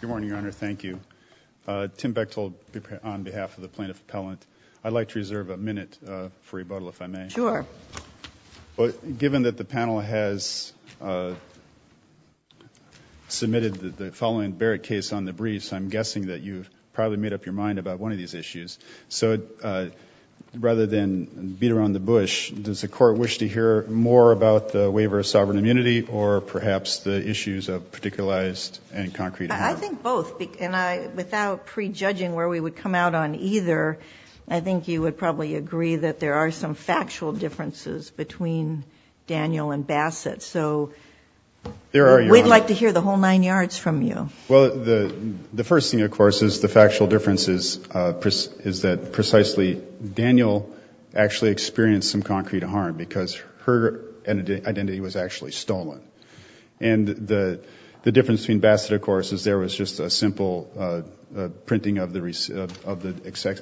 Good morning, Your Honor. Thank you. Tim Bechtold on behalf of the plaintiff appellant. I'd like to reserve a minute for rebuttal, if I may. Sure. But given that the panel has submitted the following Barrett case on the briefs, I'm guessing that you've probably made up your mind about one of these issues. So rather than beat around the bush, does the court wish to hear more about the particularized and concrete harm? I think both. Without prejudging where we would come out on either, I think you would probably agree that there are some factual differences between Daniel and Bassett. So we'd like to hear the whole nine yards from you. Well, the first thing, of course, is the factual differences is that precisely Daniel actually experienced some The difference between Bassett, of course, is there was just a simple printing of the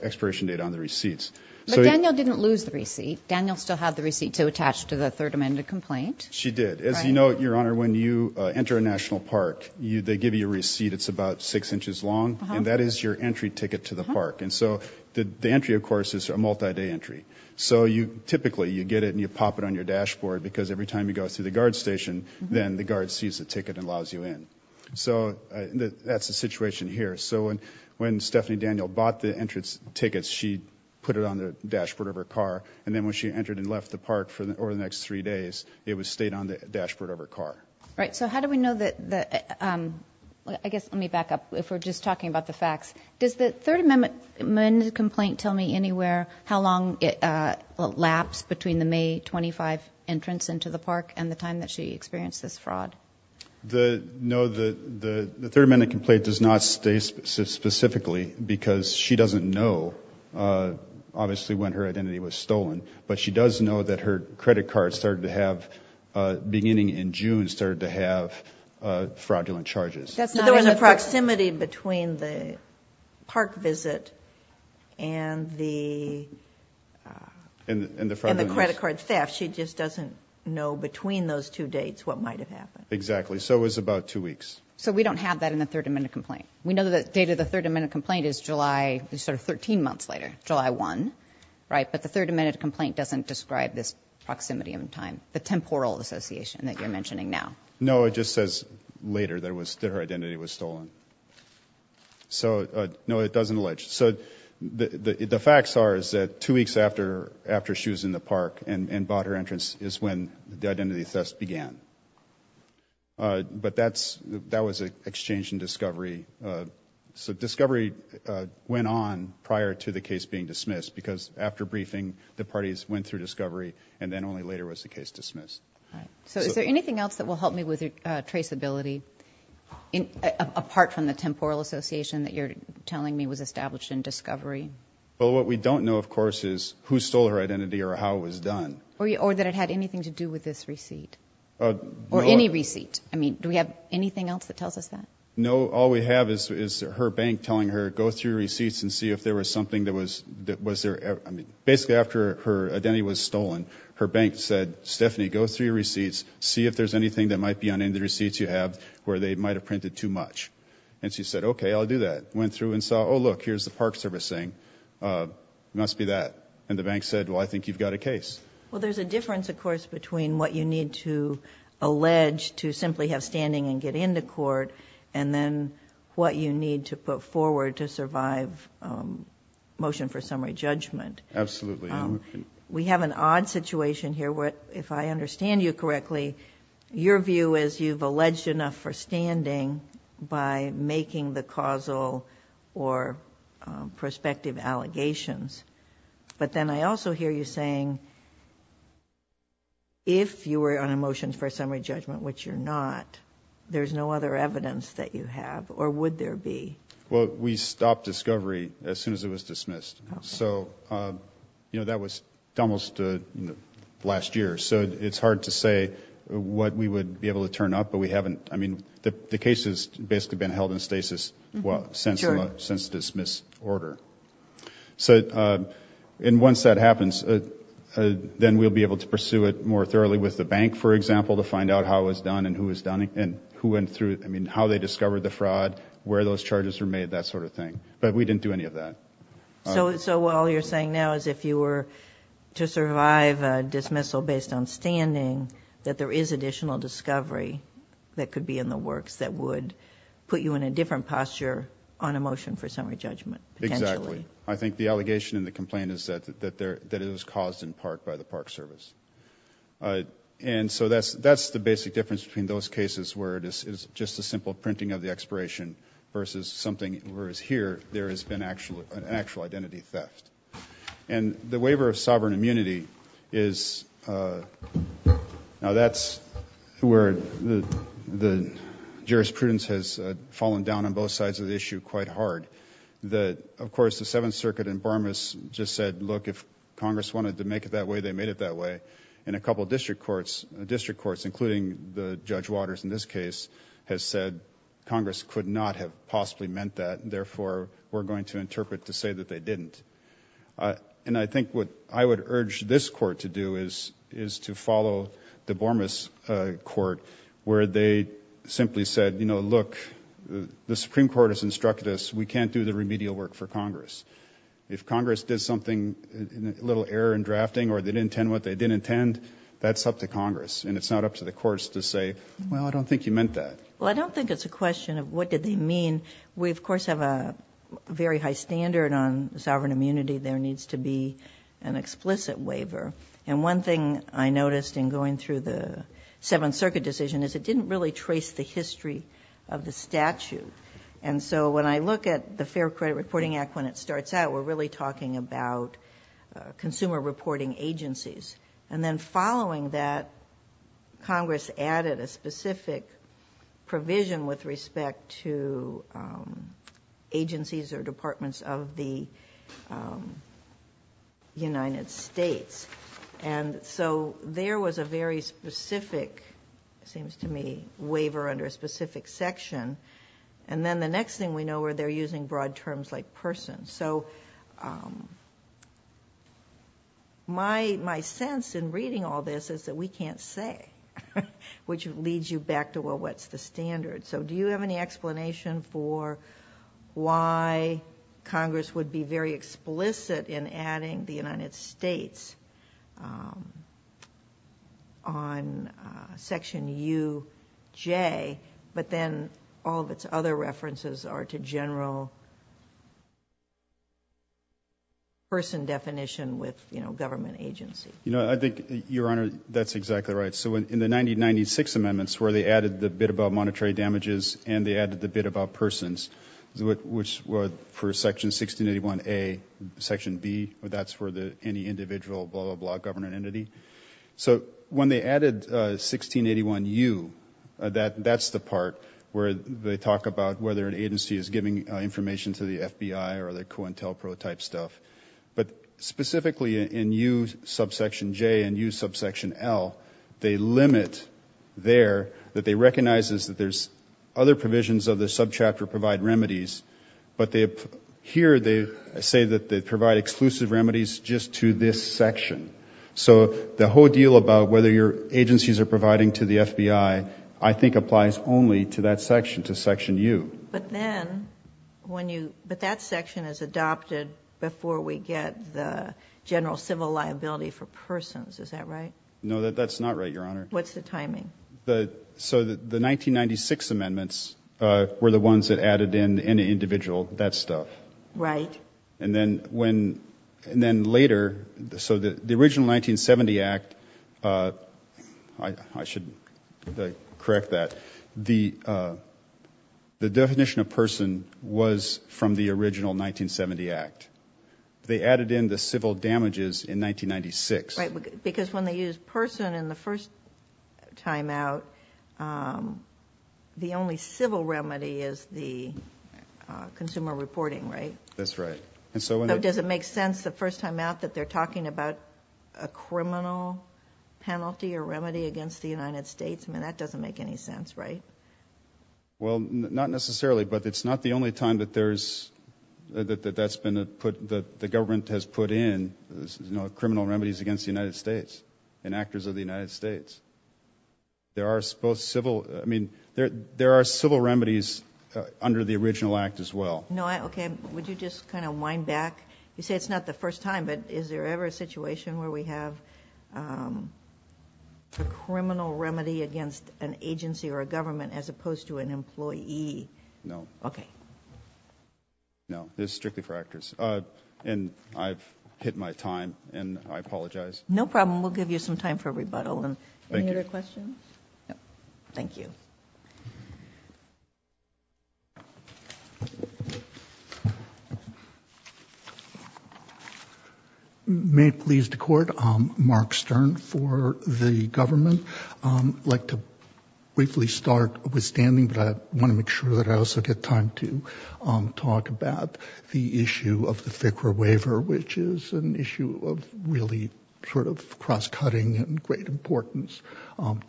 expiration date on the receipts. But Daniel didn't lose the receipt. Daniel still had the receipt to attach to the Third Amendment complaint. She did. As you know, Your Honor, when you enter a national park, they give you a receipt. It's about six inches long, and that is your entry ticket to the park. And so the entry, of course, is a multi-day entry. So you typically, you get it and you pop it on your dashboard because every time you go through the guard sees the ticket and allows you in. So that's the situation here. So when Stephanie Daniel bought the entrance tickets, she put it on the dashboard of her car, and then when she entered and left the park for the next three days, it was stayed on the dashboard of her car. Right. So how do we know that the, I guess, let me back up. If we're just talking about the facts, does the Third Amendment complaint tell me anywhere how long it lapsed between the May 25 entrance into the park and the time that she experienced this fraud? No, the Third Amendment complaint does not stay specifically because she doesn't know, obviously, when her identity was stolen. But she does know that her credit card started to have, beginning in June, started to have fraudulent charges. There was a proximity between the park visit and the credit card theft. She just doesn't know between those two dates what might have happened. Exactly. So it was about two weeks. So we don't have that in the Third Amendment complaint. We know that the date of the Third Amendment complaint is July, sort of 13 months later, July 1, right? But the Third Amendment complaint doesn't describe this proximity of time, the temporal association that you're mentioning now. No, it just says later that her identity was stolen. So, no, it doesn't allege. So the facts are is that two weeks after she was in the park and bought her entrance is when the identity theft began. But that's, that was an exchange in discovery. So discovery went on prior to the case being dismissed, because after briefing, the parties went through discovery and then only later was the case dismissed. So is there anything else that will help me with traceability, apart from the temporal association that you're telling me was established in discovery? Well, what we don't know, of course, is who stole her identity or how it was done. Or that it had anything to do with this receipt, or any receipt. I mean, do we have anything else that tells us that? No, all we have is her bank telling her, go through receipts and see if there was something that was there. I mean, basically after her identity was stolen, her bank said, Stephanie, go through your receipts, see if there's anything that might be on any of the receipts you have where they might have printed too much. And she said, okay, I'll do that. Went through and saw, oh look, here's the court servicing. Must be that. And the bank said, well, I think you've got a case. Well, there's a difference, of course, between what you need to allege to simply have standing and get into court, and then what you need to put forward to survive motion for summary judgment. Absolutely. We have an odd situation here, where if I understand you correctly, your view is you've alleged enough for standing by making the causal or prospective allegations. But then I also hear you saying if you were on a motion for a summary judgment, which you're not, there's no other evidence that you have, or would there be? Well, we stopped discovery as soon as it was dismissed. So, you know, that was almost last year. So it's hard to say what we would be able to turn up, but we would be able to pursue it more thoroughly with the bank, for example, to find out how it was done and who went through, I mean, how they discovered the fraud, where those charges were made, that sort of thing. But we didn't do any of that. So all you're saying now is if you were to survive a dismissal based on standing, that there is additional discovery that would put you in a different posture on a motion for summary judgment. Exactly. I think the allegation and the complaint is that it was caused in part by the Park Service. And so that's the basic difference between those cases where it is just a simple printing of the expiration versus something, whereas here there has been an actual identity theft. And the jurisprudence has fallen down on both sides of the issue quite hard. Of course, the Seventh Circuit in Bormas just said, look, if Congress wanted to make it that way, they made it that way. And a couple of district courts, including Judge Waters in this case, has said Congress could not have possibly meant that. Therefore, we're going to interpret to say that they didn't. And I think what I would urge this court to do is to follow the look, the Supreme Court has instructed us we can't do the remedial work for Congress. If Congress did something, a little error in drafting, or they didn't intend what they didn't intend, that's up to Congress. And it's not up to the courts to say, well, I don't think you meant that. Well, I don't think it's a question of what did they mean. We, of course, have a very high standard on sovereign immunity. There needs to be an explicit waiver. And one thing I noticed in going through the Seventh Circuit decision is it didn't really trace the of the statute. And so when I look at the Fair Credit Reporting Act, when it starts out, we're really talking about consumer reporting agencies. And then following that, Congress added a specific provision with respect to agencies or departments of the United States. And so there was a very specific, seems to me, waiver under a section. And then the next thing we know where they're using broad terms like person. So my sense in reading all this is that we can't say, which leads you back to, well, what's the standard? So do you have any explanation for why Congress would be very explicit in adding the United States on Section UJ, but then all of its other references are to general person definition with government agency? You know, I think, Your Honor, that's exactly right. So in the 1996 amendments where they added the bit about monetary damages and they added the bit about government entity. So when they added 1681U, that's the part where they talk about whether an agency is giving information to the FBI or the COINTELPRO type stuff. But specifically in U subsection J and U subsection L, they limit there that they recognize that there's other provisions of the subchapter provide remedies. But here they say that they provide exclusive remedies just to this section. So the whole deal about whether your agencies are providing to the FBI, I think applies only to that section, to Section U. But then when you, but that section is adopted before we get the general civil liability for persons. Is that right? No, that's not right, Your Honor. What's the timing? So the 1996 amendments were the ones that added in an individual, that stuff. Right. And then when, and then later, so the original 1970 Act, I should correct that. The definition of person was from the original 1970 Act. They added in the civil damages in 1996. Right, because when they use person in the first time out, the only civil remedy is the consumer reporting, right? That's right. And so does it make sense the first time out that they're talking about a criminal penalty or remedy against the United States? I mean, that doesn't make any sense, right? Well, not necessarily, but it's not the only time that there's, that that's been put, the government has put in, you know, criminal remedies against the United States and actors of the United States. There are both civil, I mean, there are civil remedies under the original Act as well. No, okay. Would you just kind of wind back? You say it's not the first time, but is there ever a situation where we have a criminal remedy against an agency or a government as opposed to an employee? No. Okay. No, there's strictly for actors. And I've hit my time and I apologize. No problem. We'll give you some time for rebuttal. And any other questions? Thank you. Okay. May it please the court. Mark Stern for the government. I'd like to briefly start withstanding, but I want to make sure that I also get time to talk about the issue of the FCRA waiver, which is an issue of really sort of cross-cutting and great importance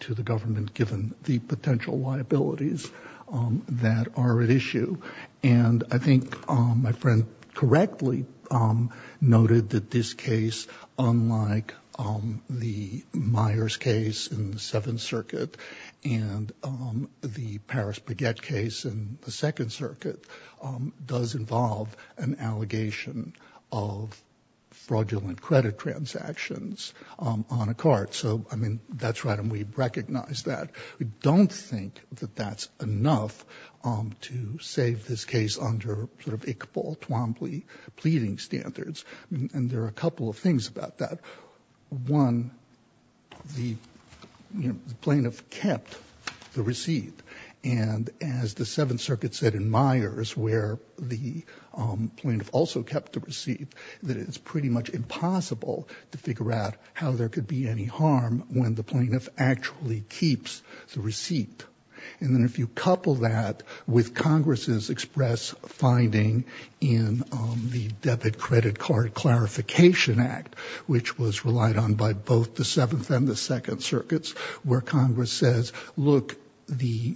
to the government, given the potential liabilities that are at issue. And I think my friend correctly noted that this case, unlike the Myers case in the Seventh Circuit and the Paris Baguette case in the Second Circuit, does involve an allegation of fraudulent credit transactions on a cart. So, I mean, that's right. And we recognize that. We don't think that that's enough to save this case under sort of Iqbal, Twombly pleading standards. And there are a couple of things about that. One, the plaintiff kept the receipt. And as the Seventh Circuit said in Myers, where the plaintiff also kept the receipt, that it's pretty much impossible to figure out how there could be any harm when the plaintiff actually keeps the receipt. And then if you couple that with Congress's express finding in the Debit Credit Card Clarification Act, which was relied on by both the Seventh and the Second Circuits, where Congress says, look, the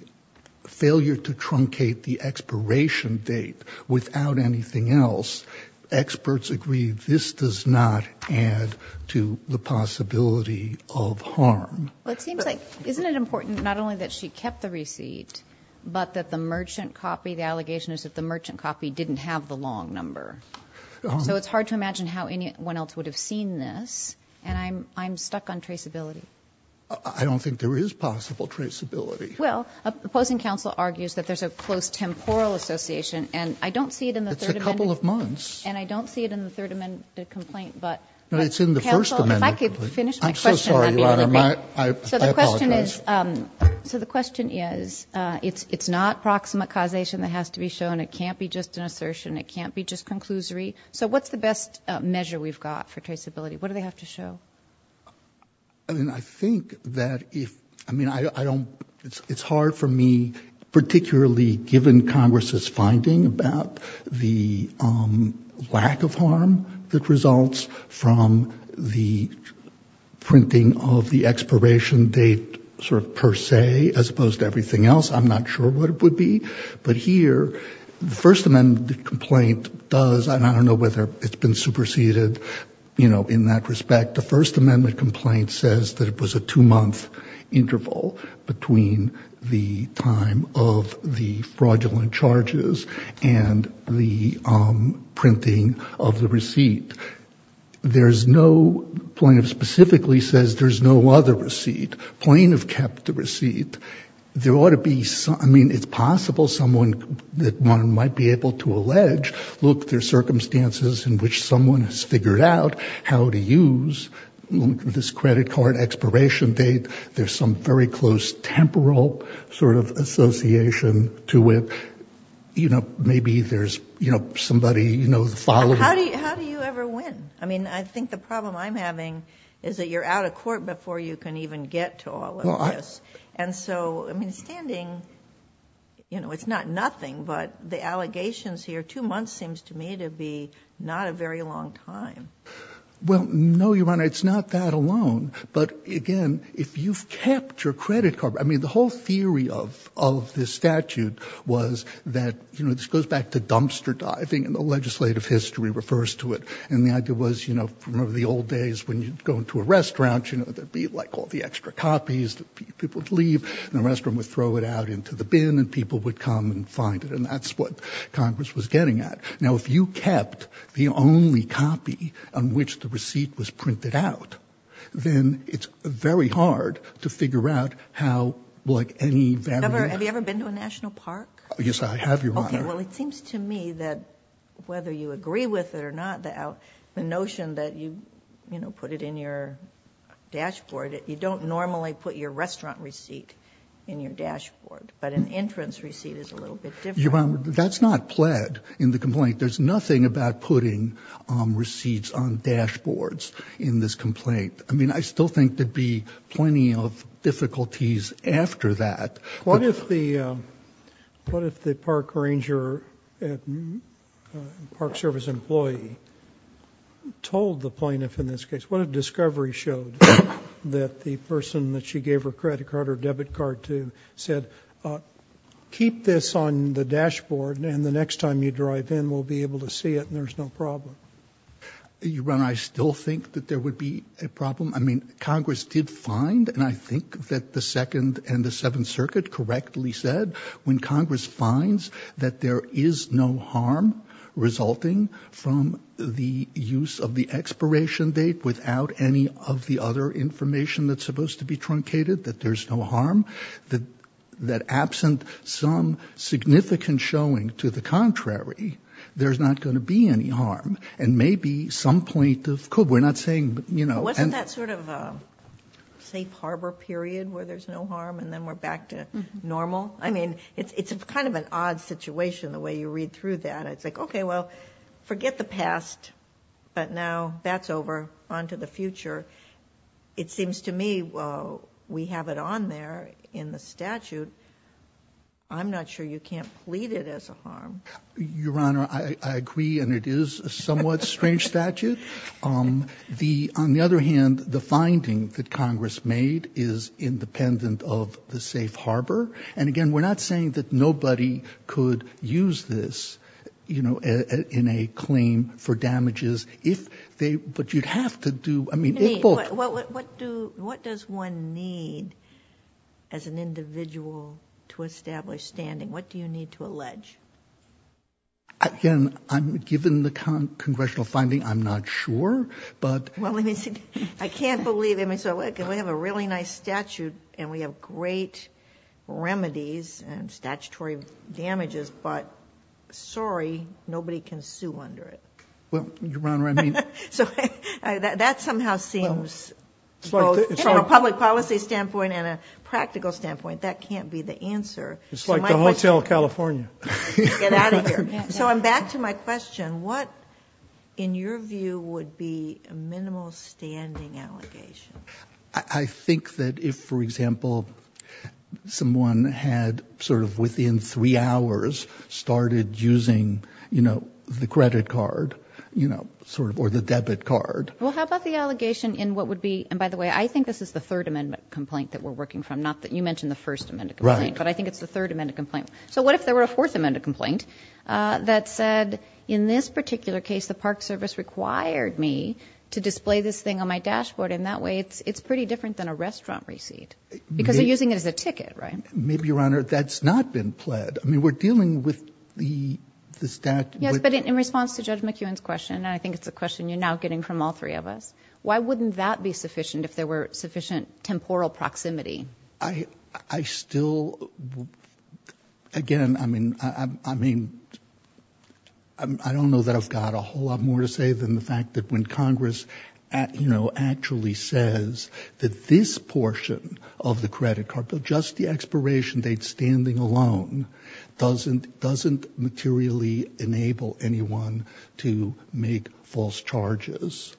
failure to truncate the expiration date without anything else, experts agree this does not add to the possibility of harm. Well, it seems like, isn't it important not only that she kept the receipt, but that the merchant copy, the allegation is that the merchant copy didn't have the long number. So it's hard to imagine how anyone else would have seen this. And I'm stuck on traceability. I don't think there is possible traceability. Well, opposing counsel argues that there's a close temporal association. And I don't see it in the Third Amendment. It's a couple of months. And I don't see it in the Third Amendment complaint. But, counsel, if I could finish my question. I'm so sorry, Your Honor. So the question is, it's not proximate causation that has to be shown. It can't be just an assertion. It can't be just conclusory. So what's the best measure we've got for traceability? What do they have to show? I mean, I think that if, I mean, I don't, it's hard for me, particularly given Congress's the lack of harm that results from the printing of the expiration date sort of per se, as opposed to everything else, I'm not sure what it would be. But here, the First Amendment complaint does, and I don't know whether it's been superseded, you know, in that respect. The First Amendment complaint says that it was a two-month interval between the time of the fraudulent charges and the printing of the receipt. There's no, plaintiff specifically says there's no other receipt. Plaintiff kept the receipt. There ought to be some, I mean, it's possible someone that one might be able to allege, look, there's circumstances in which someone has figured out how to use this credit card expiration date. There's some very close temporal sort of association to it. You know, maybe there's, you know, somebody, you know, followed. How do you ever win? I mean, I think the problem I'm having is that you're out of court before you can even get to all of this. And so, I mean, standing, you know, it's not nothing, but the allegations here, two months seems to me to be not a very long time. Well, no, Your Honor, it's not that alone. But again, if you've kept your credit card, I mean, the whole theory of this statute was that, you know, this goes back to dumpster diving and the legislative history refers to it. And the idea was, you know, from one of the old days when you'd go into a restaurant, you know, there'd be like all the extra copies that people would leave and the restaurant would throw it out into the bin and people would come and find it. And that's what Congress was getting at. Now, if you kept the only copy on which the receipt was printed out, then it's very hard to figure out how, like, any value. Have you ever been to a national park? Yes, I have, Your Honor. Okay. Well, it seems to me that whether you agree with it or not, the notion that you, you know, put it in your dashboard, you don't normally put your restaurant receipt in your dashboard. But an entrance receipt is a little bit different. That's not pled in the complaint. There's nothing about putting receipts on dashboards in this complaint. I mean, I still think there'd be plenty of difficulties after that. What if the park ranger, park service employee told the plaintiff in this case, what if discovery showed that the person that she gave her credit card or debit card to said, uh, keep this on the dashboard and the next time you drive in, we'll be able to see it and there's no problem. Your Honor, I still think that there would be a problem. I mean, Congress did find, and I think that the Second and the Seventh Circuit correctly said, when Congress finds that there is no harm resulting from the use of the expiration date without any of the other information that's supposed to be truncated, that there's no harm, that absent some significant showing to the contrary, there's not going to be any harm. And maybe some plaintiff could, we're not saying, you know. Wasn't that sort of a safe harbor period where there's no harm and then we're back to normal? I mean, it's kind of an odd situation the way you read through that. It's like, okay, well, forget the past, but now that's over onto the future. It seems to me, well, we have it on there in the statute. I'm not sure you can't plead it as a harm. Your Honor, I agree. And it is a somewhat strange statute. Um, the, on the other hand, the finding that Congress made is independent of the safe harbor. And again, we're not saying that nobody could use this, you know, in a claim for damages if they, but you'd have to do. Well, what do, what does one need as an individual to establish standing? What do you need to allege? Again, given the Congressional finding, I'm not sure, but. Well, let me see. I can't believe, I mean, so we have a really nice statute and we have great remedies and statutory damages, but sorry, nobody can sue under it. Well, Your Honor, I mean. So that somehow seems from a public policy standpoint and a practical standpoint, that can't be the answer. It's like the Hotel California. Get out of here. So I'm back to my question. What in your view would be a minimal standing allegation? I think that if, for example, someone had sort of within three hours started using, you know, the credit card, you know, sort of, or the debit card. Well, how about the allegation in what would be, and by the way, I think this is the third amendment complaint that we're working from. Not that you mentioned the first amendment complaint, but I think it's the third amendment complaint. So what if there were a fourth amendment complaint that said, in this particular case, the Park Service required me to display this thing on my dashboard. And that way it's pretty different than a restaurant receipt because they're using it as a ticket, right? Maybe, Your Honor, that's not been pled. I mean, we're dealing with the stat. Yes, but in response to Judge McEwen's question, and I think it's a question you're now getting from all three of us. Why wouldn't that be sufficient if there were sufficient temporal proximity? I still, again, I mean, I don't know that I've got a whole lot more to say than the fact that when Congress actually says that this portion of the credit card bill, just the expiration date standing alone, doesn't materially enable anyone to make false charges,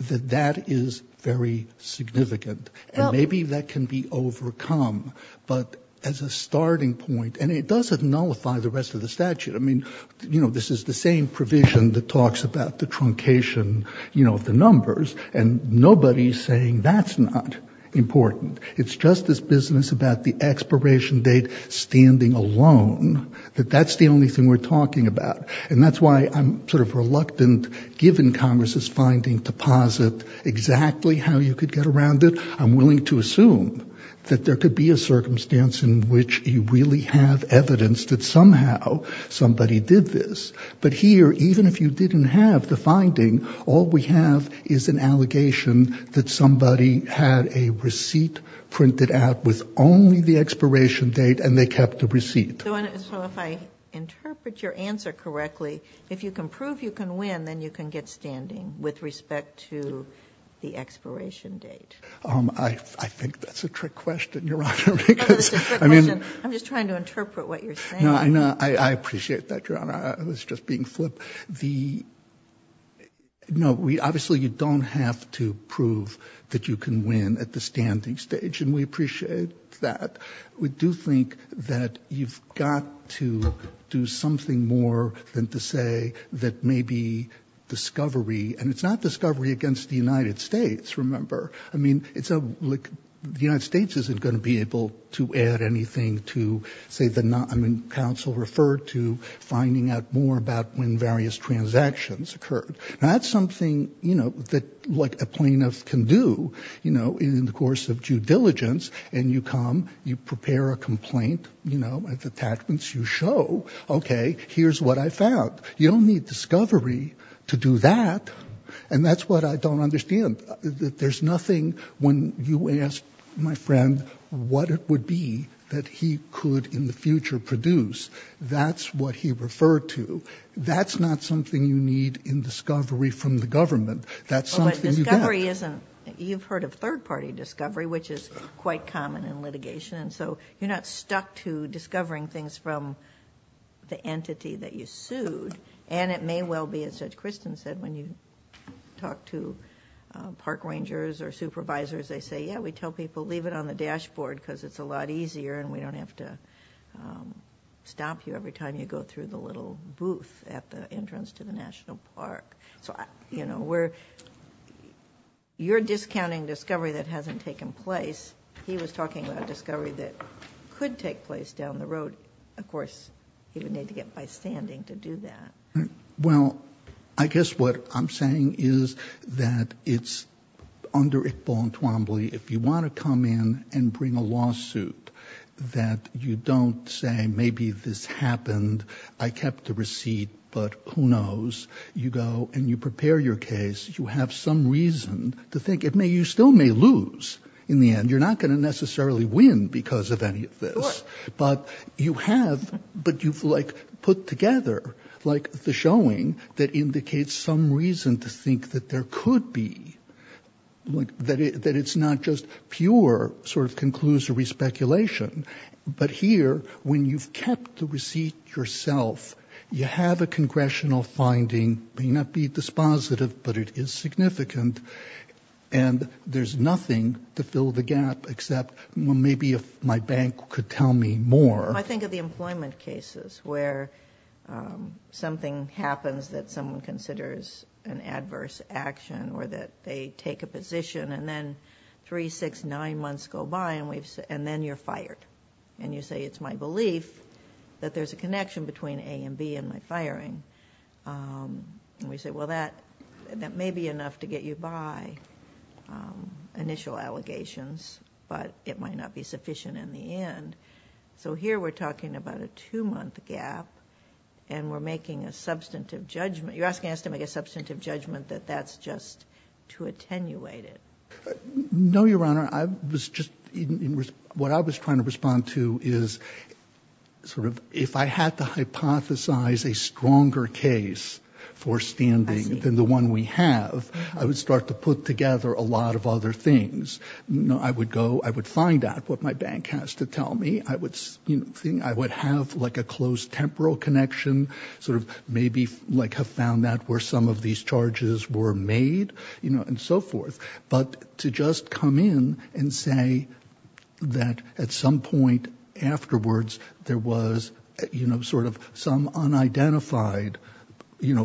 that that is very significant. And maybe that can be overcome, but as a starting point, and it doesn't nullify the rest of the statute. I mean, you know, this is the same provision that talks about the truncation, you know, of the numbers, and nobody's saying that's not important. It's just this business about the expiration date standing alone, that that's the only thing we're talking about. And that's why I'm sort of reluctant, given Congress's finding, to posit exactly how you could get around it. I'm willing to assume that there could be a circumstance in which you really have evidence that somehow somebody did this. But here, even if you didn't have the finding, all we have is an allegation that somebody had a receipt printed out with only the expiration date, and they kept the receipt. So if I interpret your answer correctly, if you can prove you can win, then you can get standing with respect to the expiration date. I think that's a trick question, Your Honor. No, it's a trick question. I'm just trying to interpret what you're saying. No, I appreciate that, Your Honor. I was just being flipped. The, no, obviously you don't have to prove that you can win at the standing stage, and we appreciate that. We do think that you've got to do something more than to say that maybe discovery, and it's not discovery against the United States, remember. I mean, the United States isn't going to be able to add anything to say that, I mean, counsel referred to finding out more about when various transactions occurred. Now, that's something, you know, that, like, a plaintiff can do, you know, in the course of due diligence, and you come, you prepare a complaint, you know, with attachments. You show, okay, here's what I found. You don't need discovery to do that, and that's what I don't understand. There's nothing when you ask my friend what it would be that he could in the future produce. That's what he referred to. That's not something you need in discovery from the government. That's something you get. But discovery isn't, you've heard of third-party discovery, which is quite common in litigation, and so you're not stuck to discovering things from the entity that you sued, and it may well be, as Judge Kristen said, when you talk to park rangers or supervisors, they say, yeah, we tell people, leave it on the dashboard, because it's a lot easier, and we don't have to stop you every time you go through the little booth at the entrance to the national park. So, you know, we're, you're discounting discovery that hasn't taken place. He was talking about discovery that could take place down the road. Of course, you would need to get by standing to do that. Well, I guess what I'm saying is that it's under Iqbal and Twombly, if you want to come in and bring a lawsuit that you don't say, maybe this happened, I kept the receipt, but who knows, you go and you prepare your case, you have some reason to think it may, you still may lose in the end. You're not going to necessarily win because of any of this, but you have, but you've like put together like the showing that indicates some reason to think that there could be like that, that it's not just pure sort of conclusory speculation. But here, when you've kept the receipt yourself, you have a congressional finding may not be dispositive, but it is significant. And there's nothing to fill the gap, except maybe if my bank could tell me more. I think of the employment cases where something happens that someone considers an adverse action or that they take a position and then three, six, nine months go by and then you're fired. And you say, it's my belief that there's a connection between A and B in my firing. We say, well, that may be enough to get you by initial allegations, but it might not be sufficient in the end. So here we're talking about a two month gap and we're making a substantive judgment. You're asking us to make a substantive judgment that that's just to attenuate it. No, Your Honor. I was just, what I was trying to respond to is sort of, if I had to hypothesize a stronger case for standing than the one we have, I would start to put together a lot of other things. I would go, I would find out what my bank has to tell me. I would think I would have like a close temporal connection, sort of maybe like have found that where some of these charges were made and so forth. But to just come in and say that at some point afterwards, there was sort of some unidentified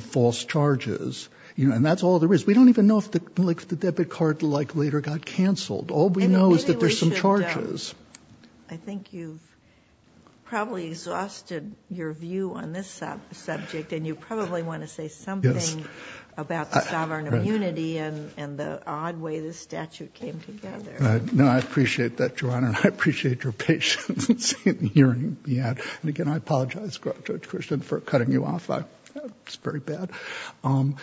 false charges, and that's all there is. We don't even know if the debit card like later got canceled. All we know is that there's some charges. I think you've probably exhausted your view on this subject and you probably want to say something about the sovereign immunity and the odd way the statute came together. No, I appreciate that, Your Honor. I appreciate your patience in hearing me out. And again, I apologize, Judge Christian, for cutting you off. It's very bad. I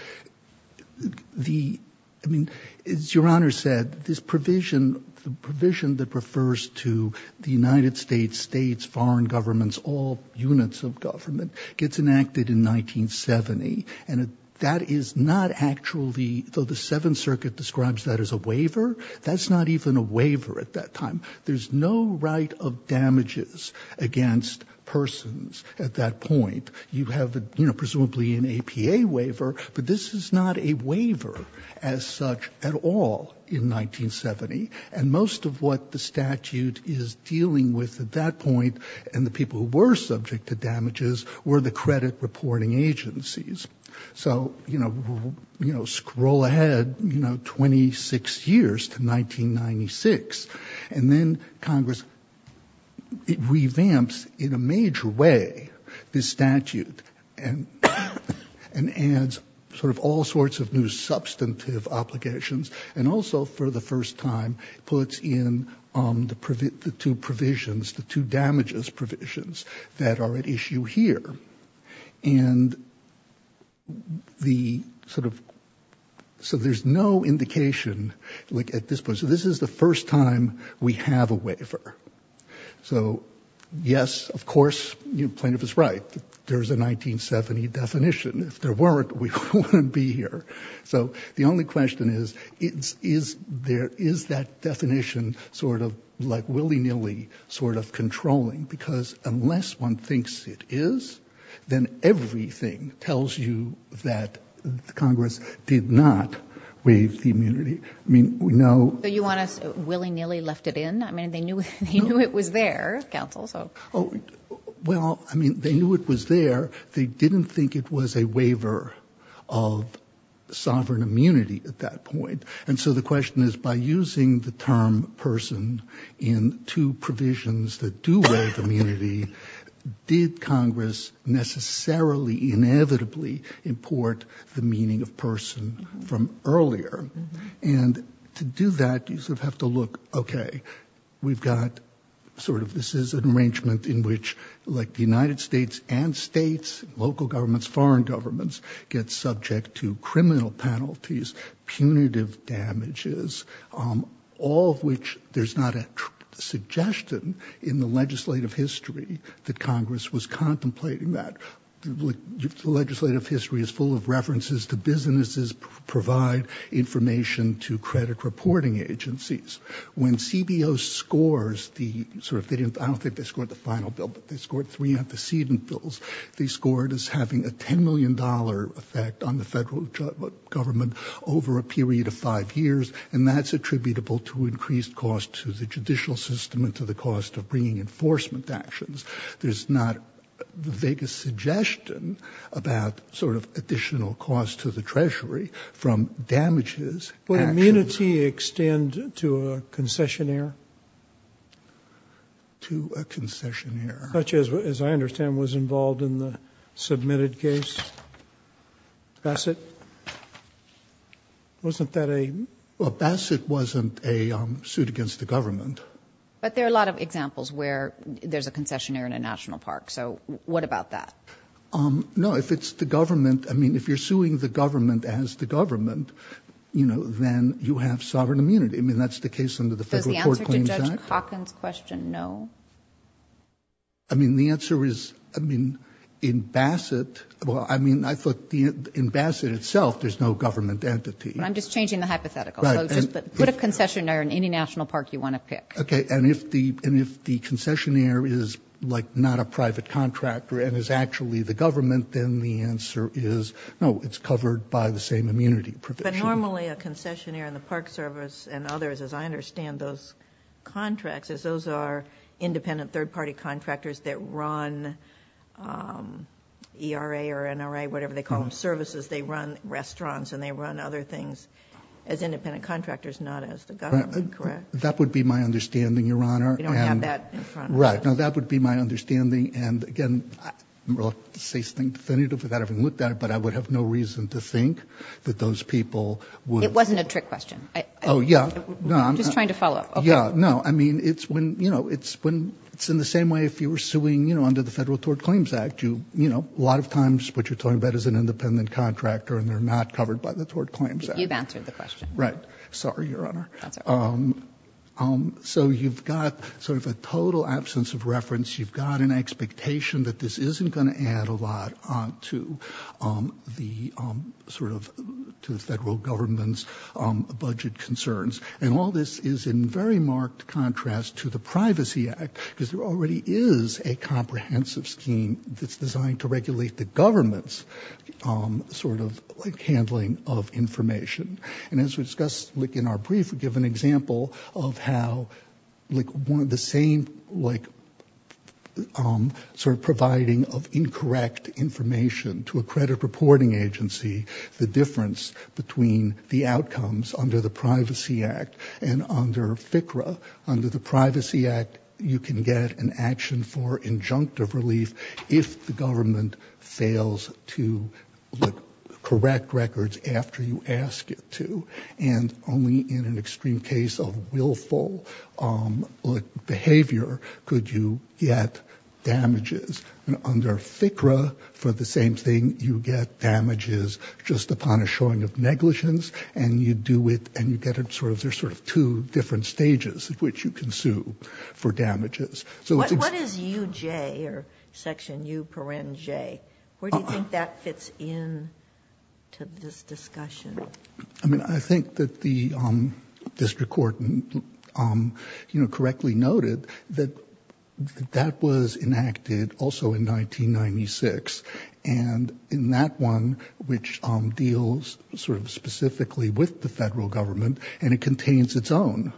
mean, as Your Honor said, this provision, the provision that refers to the United States, states, foreign governments, all units of government gets enacted in 1970. And that is not actually, though the Seventh Circuit describes that as a waiver, that's not even a waiver at that time. There's no right of damages against persons at that point. You have, you know, presumably an APA waiver, but this is not a waiver as such at all in 1970. And most of what the statute is dealing with at that point and the people who were subject to damages were the credit reporting agencies. So, you know, scroll ahead, you know, 26 years to 1996. And then Congress revamps, in a major way, this statute and adds sort of all sorts of new substantive obligations. And also, for the first time, puts in the two provisions, the two damages provisions that are at issue here. And the sort of, so there's no indication like at this point. This is the first time we have a waiver. So, yes, of course, the plaintiff is right. There's a 1970 definition. If there weren't, we wouldn't be here. So the only question is, is there, is that definition sort of like willy-nilly sort of controlling? Because unless one thinks it is, then everything tells you that Congress did not waive the immunity. I mean, we know. So you want us willy-nilly left it in? I mean, they knew it was there, counsel, so. Well, I mean, they knew it was there. They didn't think it was a waiver of sovereign immunity at that point. And so the question is, by using the term person in two provisions that do waive immunity, did Congress necessarily, inevitably import the meaning of person from earlier? And to do that, you sort of have to look, OK, we've got sort of this is an arrangement in which like the United States and states, local governments, foreign governments get subject to criminal penalties, punitive damages, all of which there's not a suggestion in the legislative history that Congress was contemplating that. The legislative history is full of references to businesses provide information to credit reporting agencies. When CBO scores the sort of, I don't think they scored the final bill, but they scored three antecedent bills. They scored as having a $10 million effect on the federal government over a period of five years. And that's attributable to increased cost to the judicial system and to the cost of bringing enforcement actions. There's not the vaguest suggestion about sort of additional cost to the treasury from damages. Would immunity extend to a concessionaire? To a concessionaire. Such as, as I understand, was involved in the submitted case? Bassett? Wasn't that a? Well, Bassett wasn't a suit against the government. But there are a lot of examples where there's a concessionaire in a national park. So what about that? No, if it's the government, I mean, if you're suing the government as the government, you know, then you have sovereign immunity. I mean, that's the case under the Federal Court Claims Act. Does the answer to Judge Calkins' question, no? I mean, the answer is, I mean, in Bassett, well, I mean, I thought in Bassett itself, there's no government entity. I'm just changing the hypothetical. Put a concessionaire in any national park you want to pick. Okay, and if the concessionaire is like not a private contractor and is actually the government, then the answer is, no, it's covered by the same immunity provision. But normally a concessionaire in the Park Service and others, as I understand those contracts, is those are independent third party contractors that run ERA or NRA, whatever they call them, services. They run restaurants and they run other things as independent contractors, not as the government, correct? That would be my understanding, Your Honor. We don't have that in front of us. Right, now that would be my understanding. And again, I'm reluctant to say something definitive without having looked at it, but I would have no reason to think that those people would... It wasn't a trick question. Oh, yeah, no. I'm just trying to follow up. Yeah, no, I mean, it's when, you know, it's when it's in the same way if you were suing, you know, under the Federal Court Claims Act, you, you know, a lot of times what you're an independent contractor and they're not covered by the Tort Claims Act. You've answered the question. Right. Sorry, Your Honor. So you've got sort of a total absence of reference. You've got an expectation that this isn't going to add a lot on to the sort of to the federal government's budget concerns. And all this is in very marked contrast to the Privacy Act because there already is a sort of handling of information. And as we discussed in our brief, we give an example of how like one of the same like sort of providing of incorrect information to a credit reporting agency, the difference between the outcomes under the Privacy Act and under FCRA. Under the Privacy Act, you can get an action for injunctive relief if the government fails to correct records after you ask it to. And only in an extreme case of willful behavior could you get damages. And under FCRA, for the same thing, you get damages just upon a showing of negligence and you do it and you get it sort of there's sort of two different stages at which you can sue for damages. So what is UJ or Section U-Parent J? Where do you think that fits in to this discussion? I mean, I think that the district court, you know, correctly noted that that was enacted also in 1996 and in that one which deals sort of specifically with the federal government and it contains its own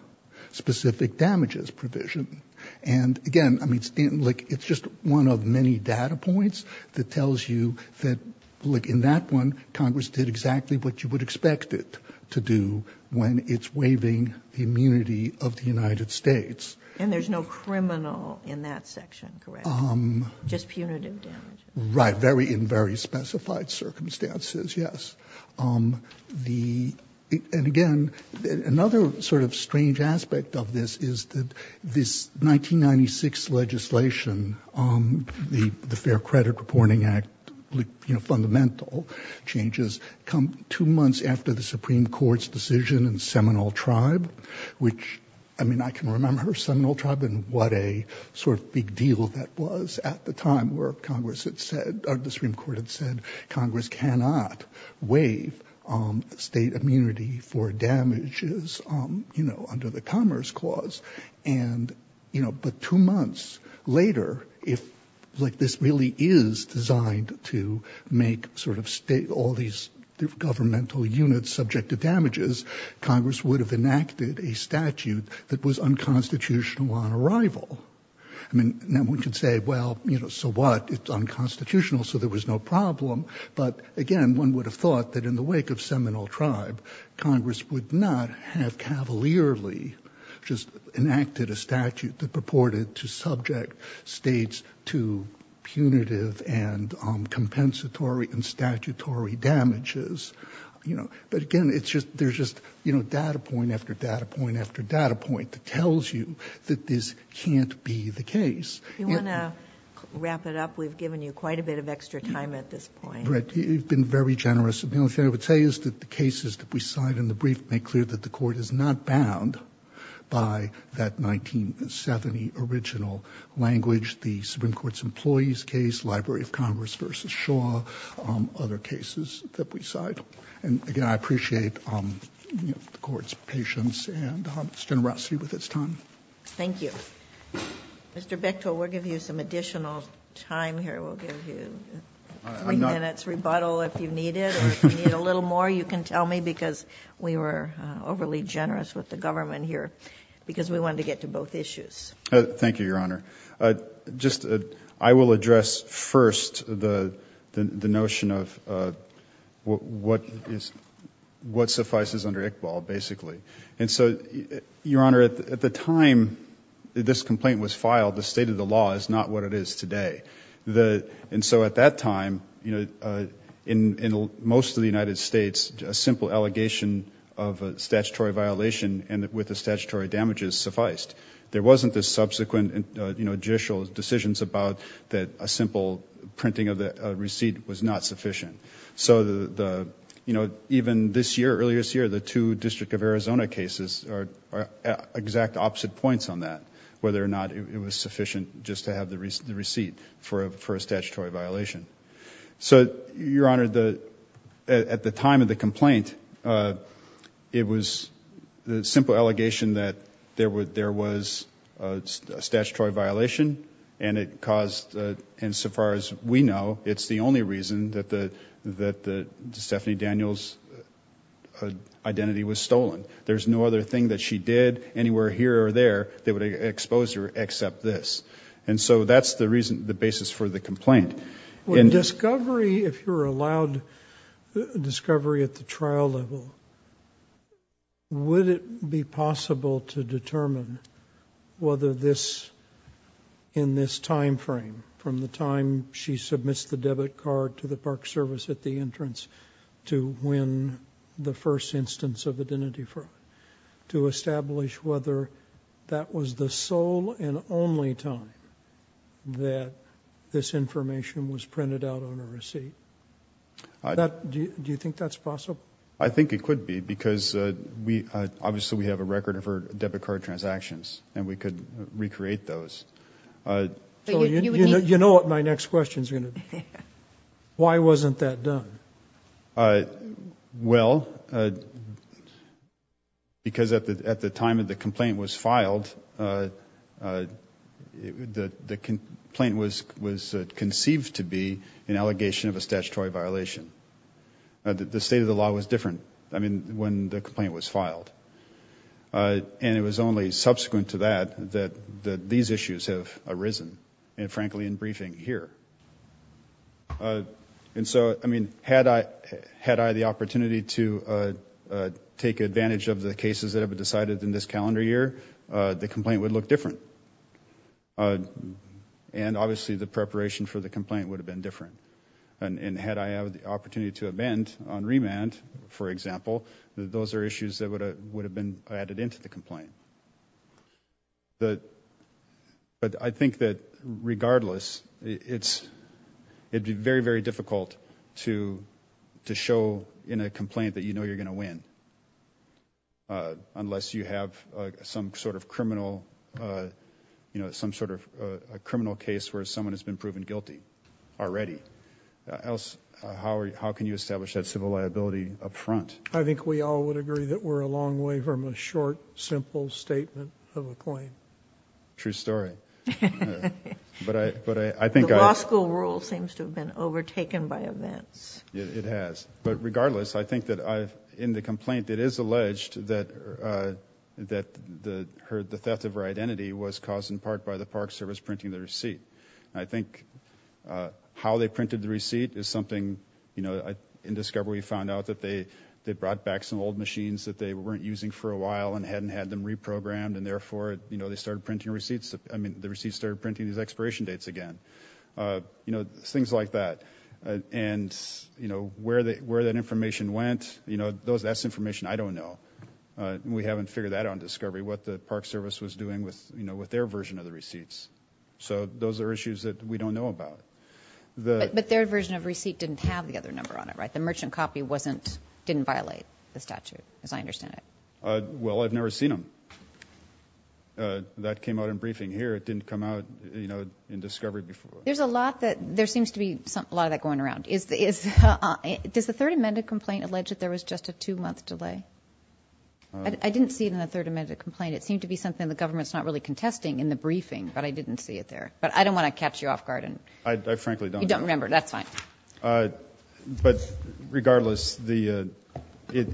specific damages provision. And again, I mean, like it's just one of many data points that tells you that like in that one, Congress did exactly what you would expect it to do when it's waiving the immunity of the United States. And there's no criminal in that section, correct? Just punitive damages. Right, in very specified circumstances, yes. And again, another sort of strange aspect of this is that this 1996 legislation, the Fair Credit Reporting Act, you know, fundamental changes come two months after the Supreme Court's decision in Seminole Tribe, which I mean, I can remember Seminole Tribe and what a sort of big deal that was at the time where Congress had said or the Supreme Court had said Congress cannot waive state immunity for damages, you know, under the Commerce Clause. And, you know, but two months later, if like this really is designed to make sort of state all these governmental units subject to damages, Congress would have enacted a statute that was unconstitutional on arrival. I mean, now we can say, well, you know, so what? It's unconstitutional, so there was no problem. But again, one would have thought that in the wake of Seminole Tribe, Congress would not have cavalierly just enacted a statute that purported to subject states to punitive and compensatory and statutory damages, you know. But again, it's just, there's just, you know, data point after data point after data point that tells you that this can't be the case. You want to wrap it up? We've given you quite a bit of extra time at this point. Right. You've been very generous. The only thing I would say is that the cases that we cite in the brief make clear that the Court is not bound by that 1970 original language, the Supreme Court's employees case, Library of Congress versus Shaw, other cases that we cite. And again, I appreciate the Court's patience and its generosity with its time. Thank you. Mr. Bechtol, we'll give you some additional time here. We'll give you three minutes rebuttal if you need it, or if you need a little more, you can tell me, because we were overly generous with the government here, because we wanted to get to both issues. Thank you, Your Honor. Just, I will address first the notion of what suffices under Iqbal, basically. And so, Your Honor, at the time this complaint was filed, the state of the law is not what it is today. And so at that time, you know, in most of the United States, a simple allegation of a statutory violation with the statutory damages sufficed. There wasn't the subsequent, you know, judicial decisions about that a simple printing of the receipt was not sufficient. So the, you know, even this year, earlier this year, the two District of Arizona cases are exact opposite points on that, whether or not it was sufficient just to have the receipt for a statutory violation. So, Your Honor, at the time of the complaint, it was the simple allegation that there was a statutory violation and it caused, and so far as we know, it's the only reason that the, that the Stephanie Daniels identity was stolen. There's no other thing that she did anywhere here or there that would expose her except this. And so that's the reason, the basis for the complaint. When discovery, if you're allowed discovery at the trial level, would it be possible to whether this, in this timeframe, from the time she submits the debit card to the park service at the entrance to when the first instance of identity fraud, to establish whether that was the sole and only time that this information was printed out on a receipt? Do you think that's possible? I think it could be because we, obviously we have a record of her debit card transactions and we could recreate those. You know what my next question is going to be, why wasn't that done? Well, because at the time of the complaint was filed, the complaint was conceived to be an allegation of a statutory violation. The state of the law was different. I mean, when the complaint was filed, and it was only subsequent to that, that these issues have arisen and frankly, in briefing here. And so, I mean, had I, had I the opportunity to take advantage of the cases that have been decided in this calendar year, the complaint would look different. And obviously the preparation for the complaint would have been different. And had I had the opportunity to amend on remand, for example, those are issues that would have been added into the complaint. But I think that regardless, it'd be very, very difficult to show in a complaint that you know you're going to win. Unless you have some sort of criminal, you know, some sort of criminal case where someone has been proven guilty already. Else, how are you, how can you establish that civil liability up front? I think we all would agree that we're a long way from a short, simple statement of a claim. True story. But I, but I think. The law school rule seems to have been overtaken by events. It has. But regardless, I think that I've, in the complaint, it is alleged that, that the, her, the theft of her identity was caused in part by the Park Service printing the receipt. And I think how they printed the receipt is something, you know, in discovery we found out that they, they brought back some old machines that they weren't using for a while and hadn't had them reprogrammed. And therefore, you know, they started printing receipts. I mean, the receipts started printing these expiration dates again. You know, things like that. And, you know, where they, where that information went, you know, those, that's information I don't know. We haven't figured that out in discovery, what the Park Service was doing with, you know, with their version of the receipts. So those are issues that we don't know about. But their version of receipt didn't have the other number on it, right? The merchant copy wasn't, didn't violate the statute, as I understand it. Well, I've never seen them. That came out in briefing here. It didn't come out, you know, in discovery before. There's a lot that, there seems to be a lot of that going around. Is, is, does the third amended complaint allege that there was just a two month delay? I didn't see it in the third amended complaint. It seemed to be something the government's not really contesting in the briefing. But I didn't see it there. But I don't want to catch you off guard. I, I frankly don't. You don't remember, that's fine. But regardless, the, it,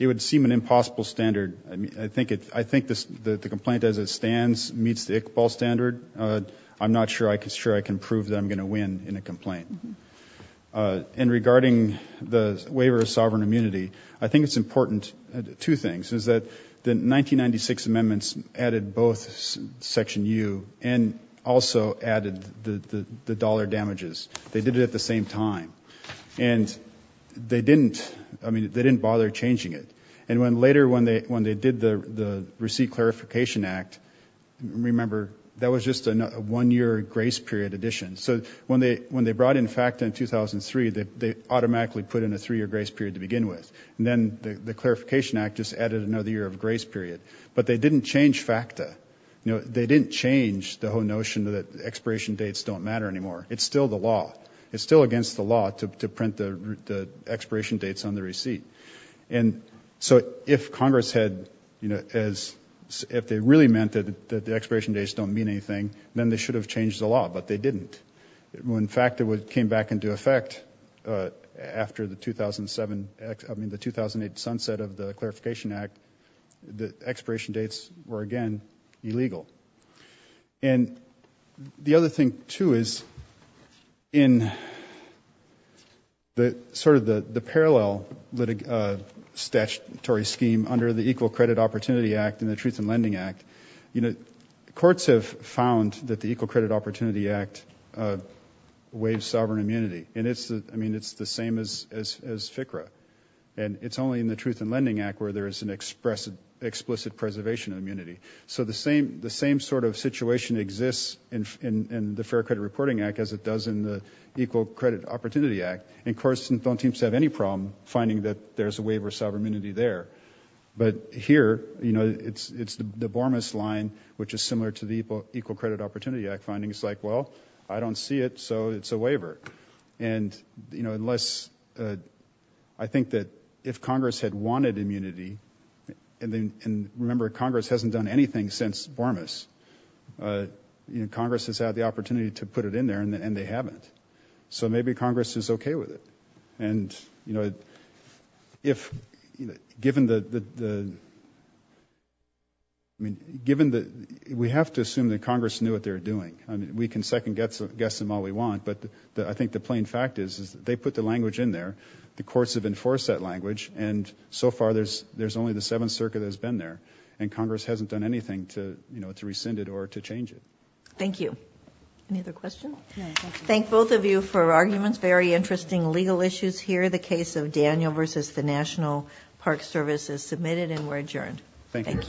it would seem an impossible standard. I mean, I think it, I think this, the complaint as it stands meets the Iqbal standard. I'm not sure I can, sure I can prove that I'm going to win in a complaint. And regarding the waiver of sovereign immunity, I think it's important, two things, is that the 1996 amendments added both section U and also added the, the, the dollar damages. They did it at the same time. And they didn't, I mean, they didn't bother changing it. And when later, when they, when they did the, the receipt clarification act, remember, that was just a one year grace period addition. So when they, when they brought in FACTA in 2003, they, they automatically put in a three year grace period to begin with. And then the, the clarification act just added another year of grace period. But they didn't change FACTA. You know, they didn't change the whole notion that expiration dates don't matter anymore. It's still the law. It's still against the law to, to print the, the expiration dates on the receipt. And so if Congress had, you know, as, if they really meant that, that the expiration dates don't mean anything, then they should have changed the law, but they didn't. When FACTA came back into effect after the 2007, I mean, the 2008 sunset of the clarification act, the expiration dates were again illegal. And the other thing too is in the, sort of the, the parallel litig, statutory scheme under the Equal Credit Opportunity Act and the Truth in Lending Act, you know, courts have found that the Equal Credit Opportunity Act waives sovereign immunity. And it's the, I mean, it's the same as, as, as FCRA. And it's only in the Truth in Lending Act where there is an express, explicit preservation of immunity. So the same, the same sort of situation exists in, in, in the Fair Credit Reporting Act as it does in the Equal Credit Opportunity Act. And courts don't seem to have any problem finding that there's a waiver of sovereign immunity there. But here, you know, it's, it's the Bormas line, which is similar to the Equal Credit Opportunity Act findings like, well, I don't see it, so it's a waiver. And, you know, unless, I think that if Congress had wanted immunity, and then, and remember, Congress hasn't done anything since Bormas. You know, Congress has had the opportunity to put it in there and they haven't. So maybe Congress is okay with it. And, you know, if, you know, given the, the, the, I mean, given the, we have to assume that Congress knew what they were doing. I mean, we can second guess, guess them all we want. But the, I think the plain fact is, is they put the language in there. The courts have enforced that language. And so far, there's, there's only the Seventh Circuit has been there. And Congress hasn't done anything to, you know, to rescind it or to change it. Thank you. Any other questions? Thank both of you for arguments. Very interesting legal issues here. The case of Daniel versus the National Park Service is submitted and we're adjourned. Thank you.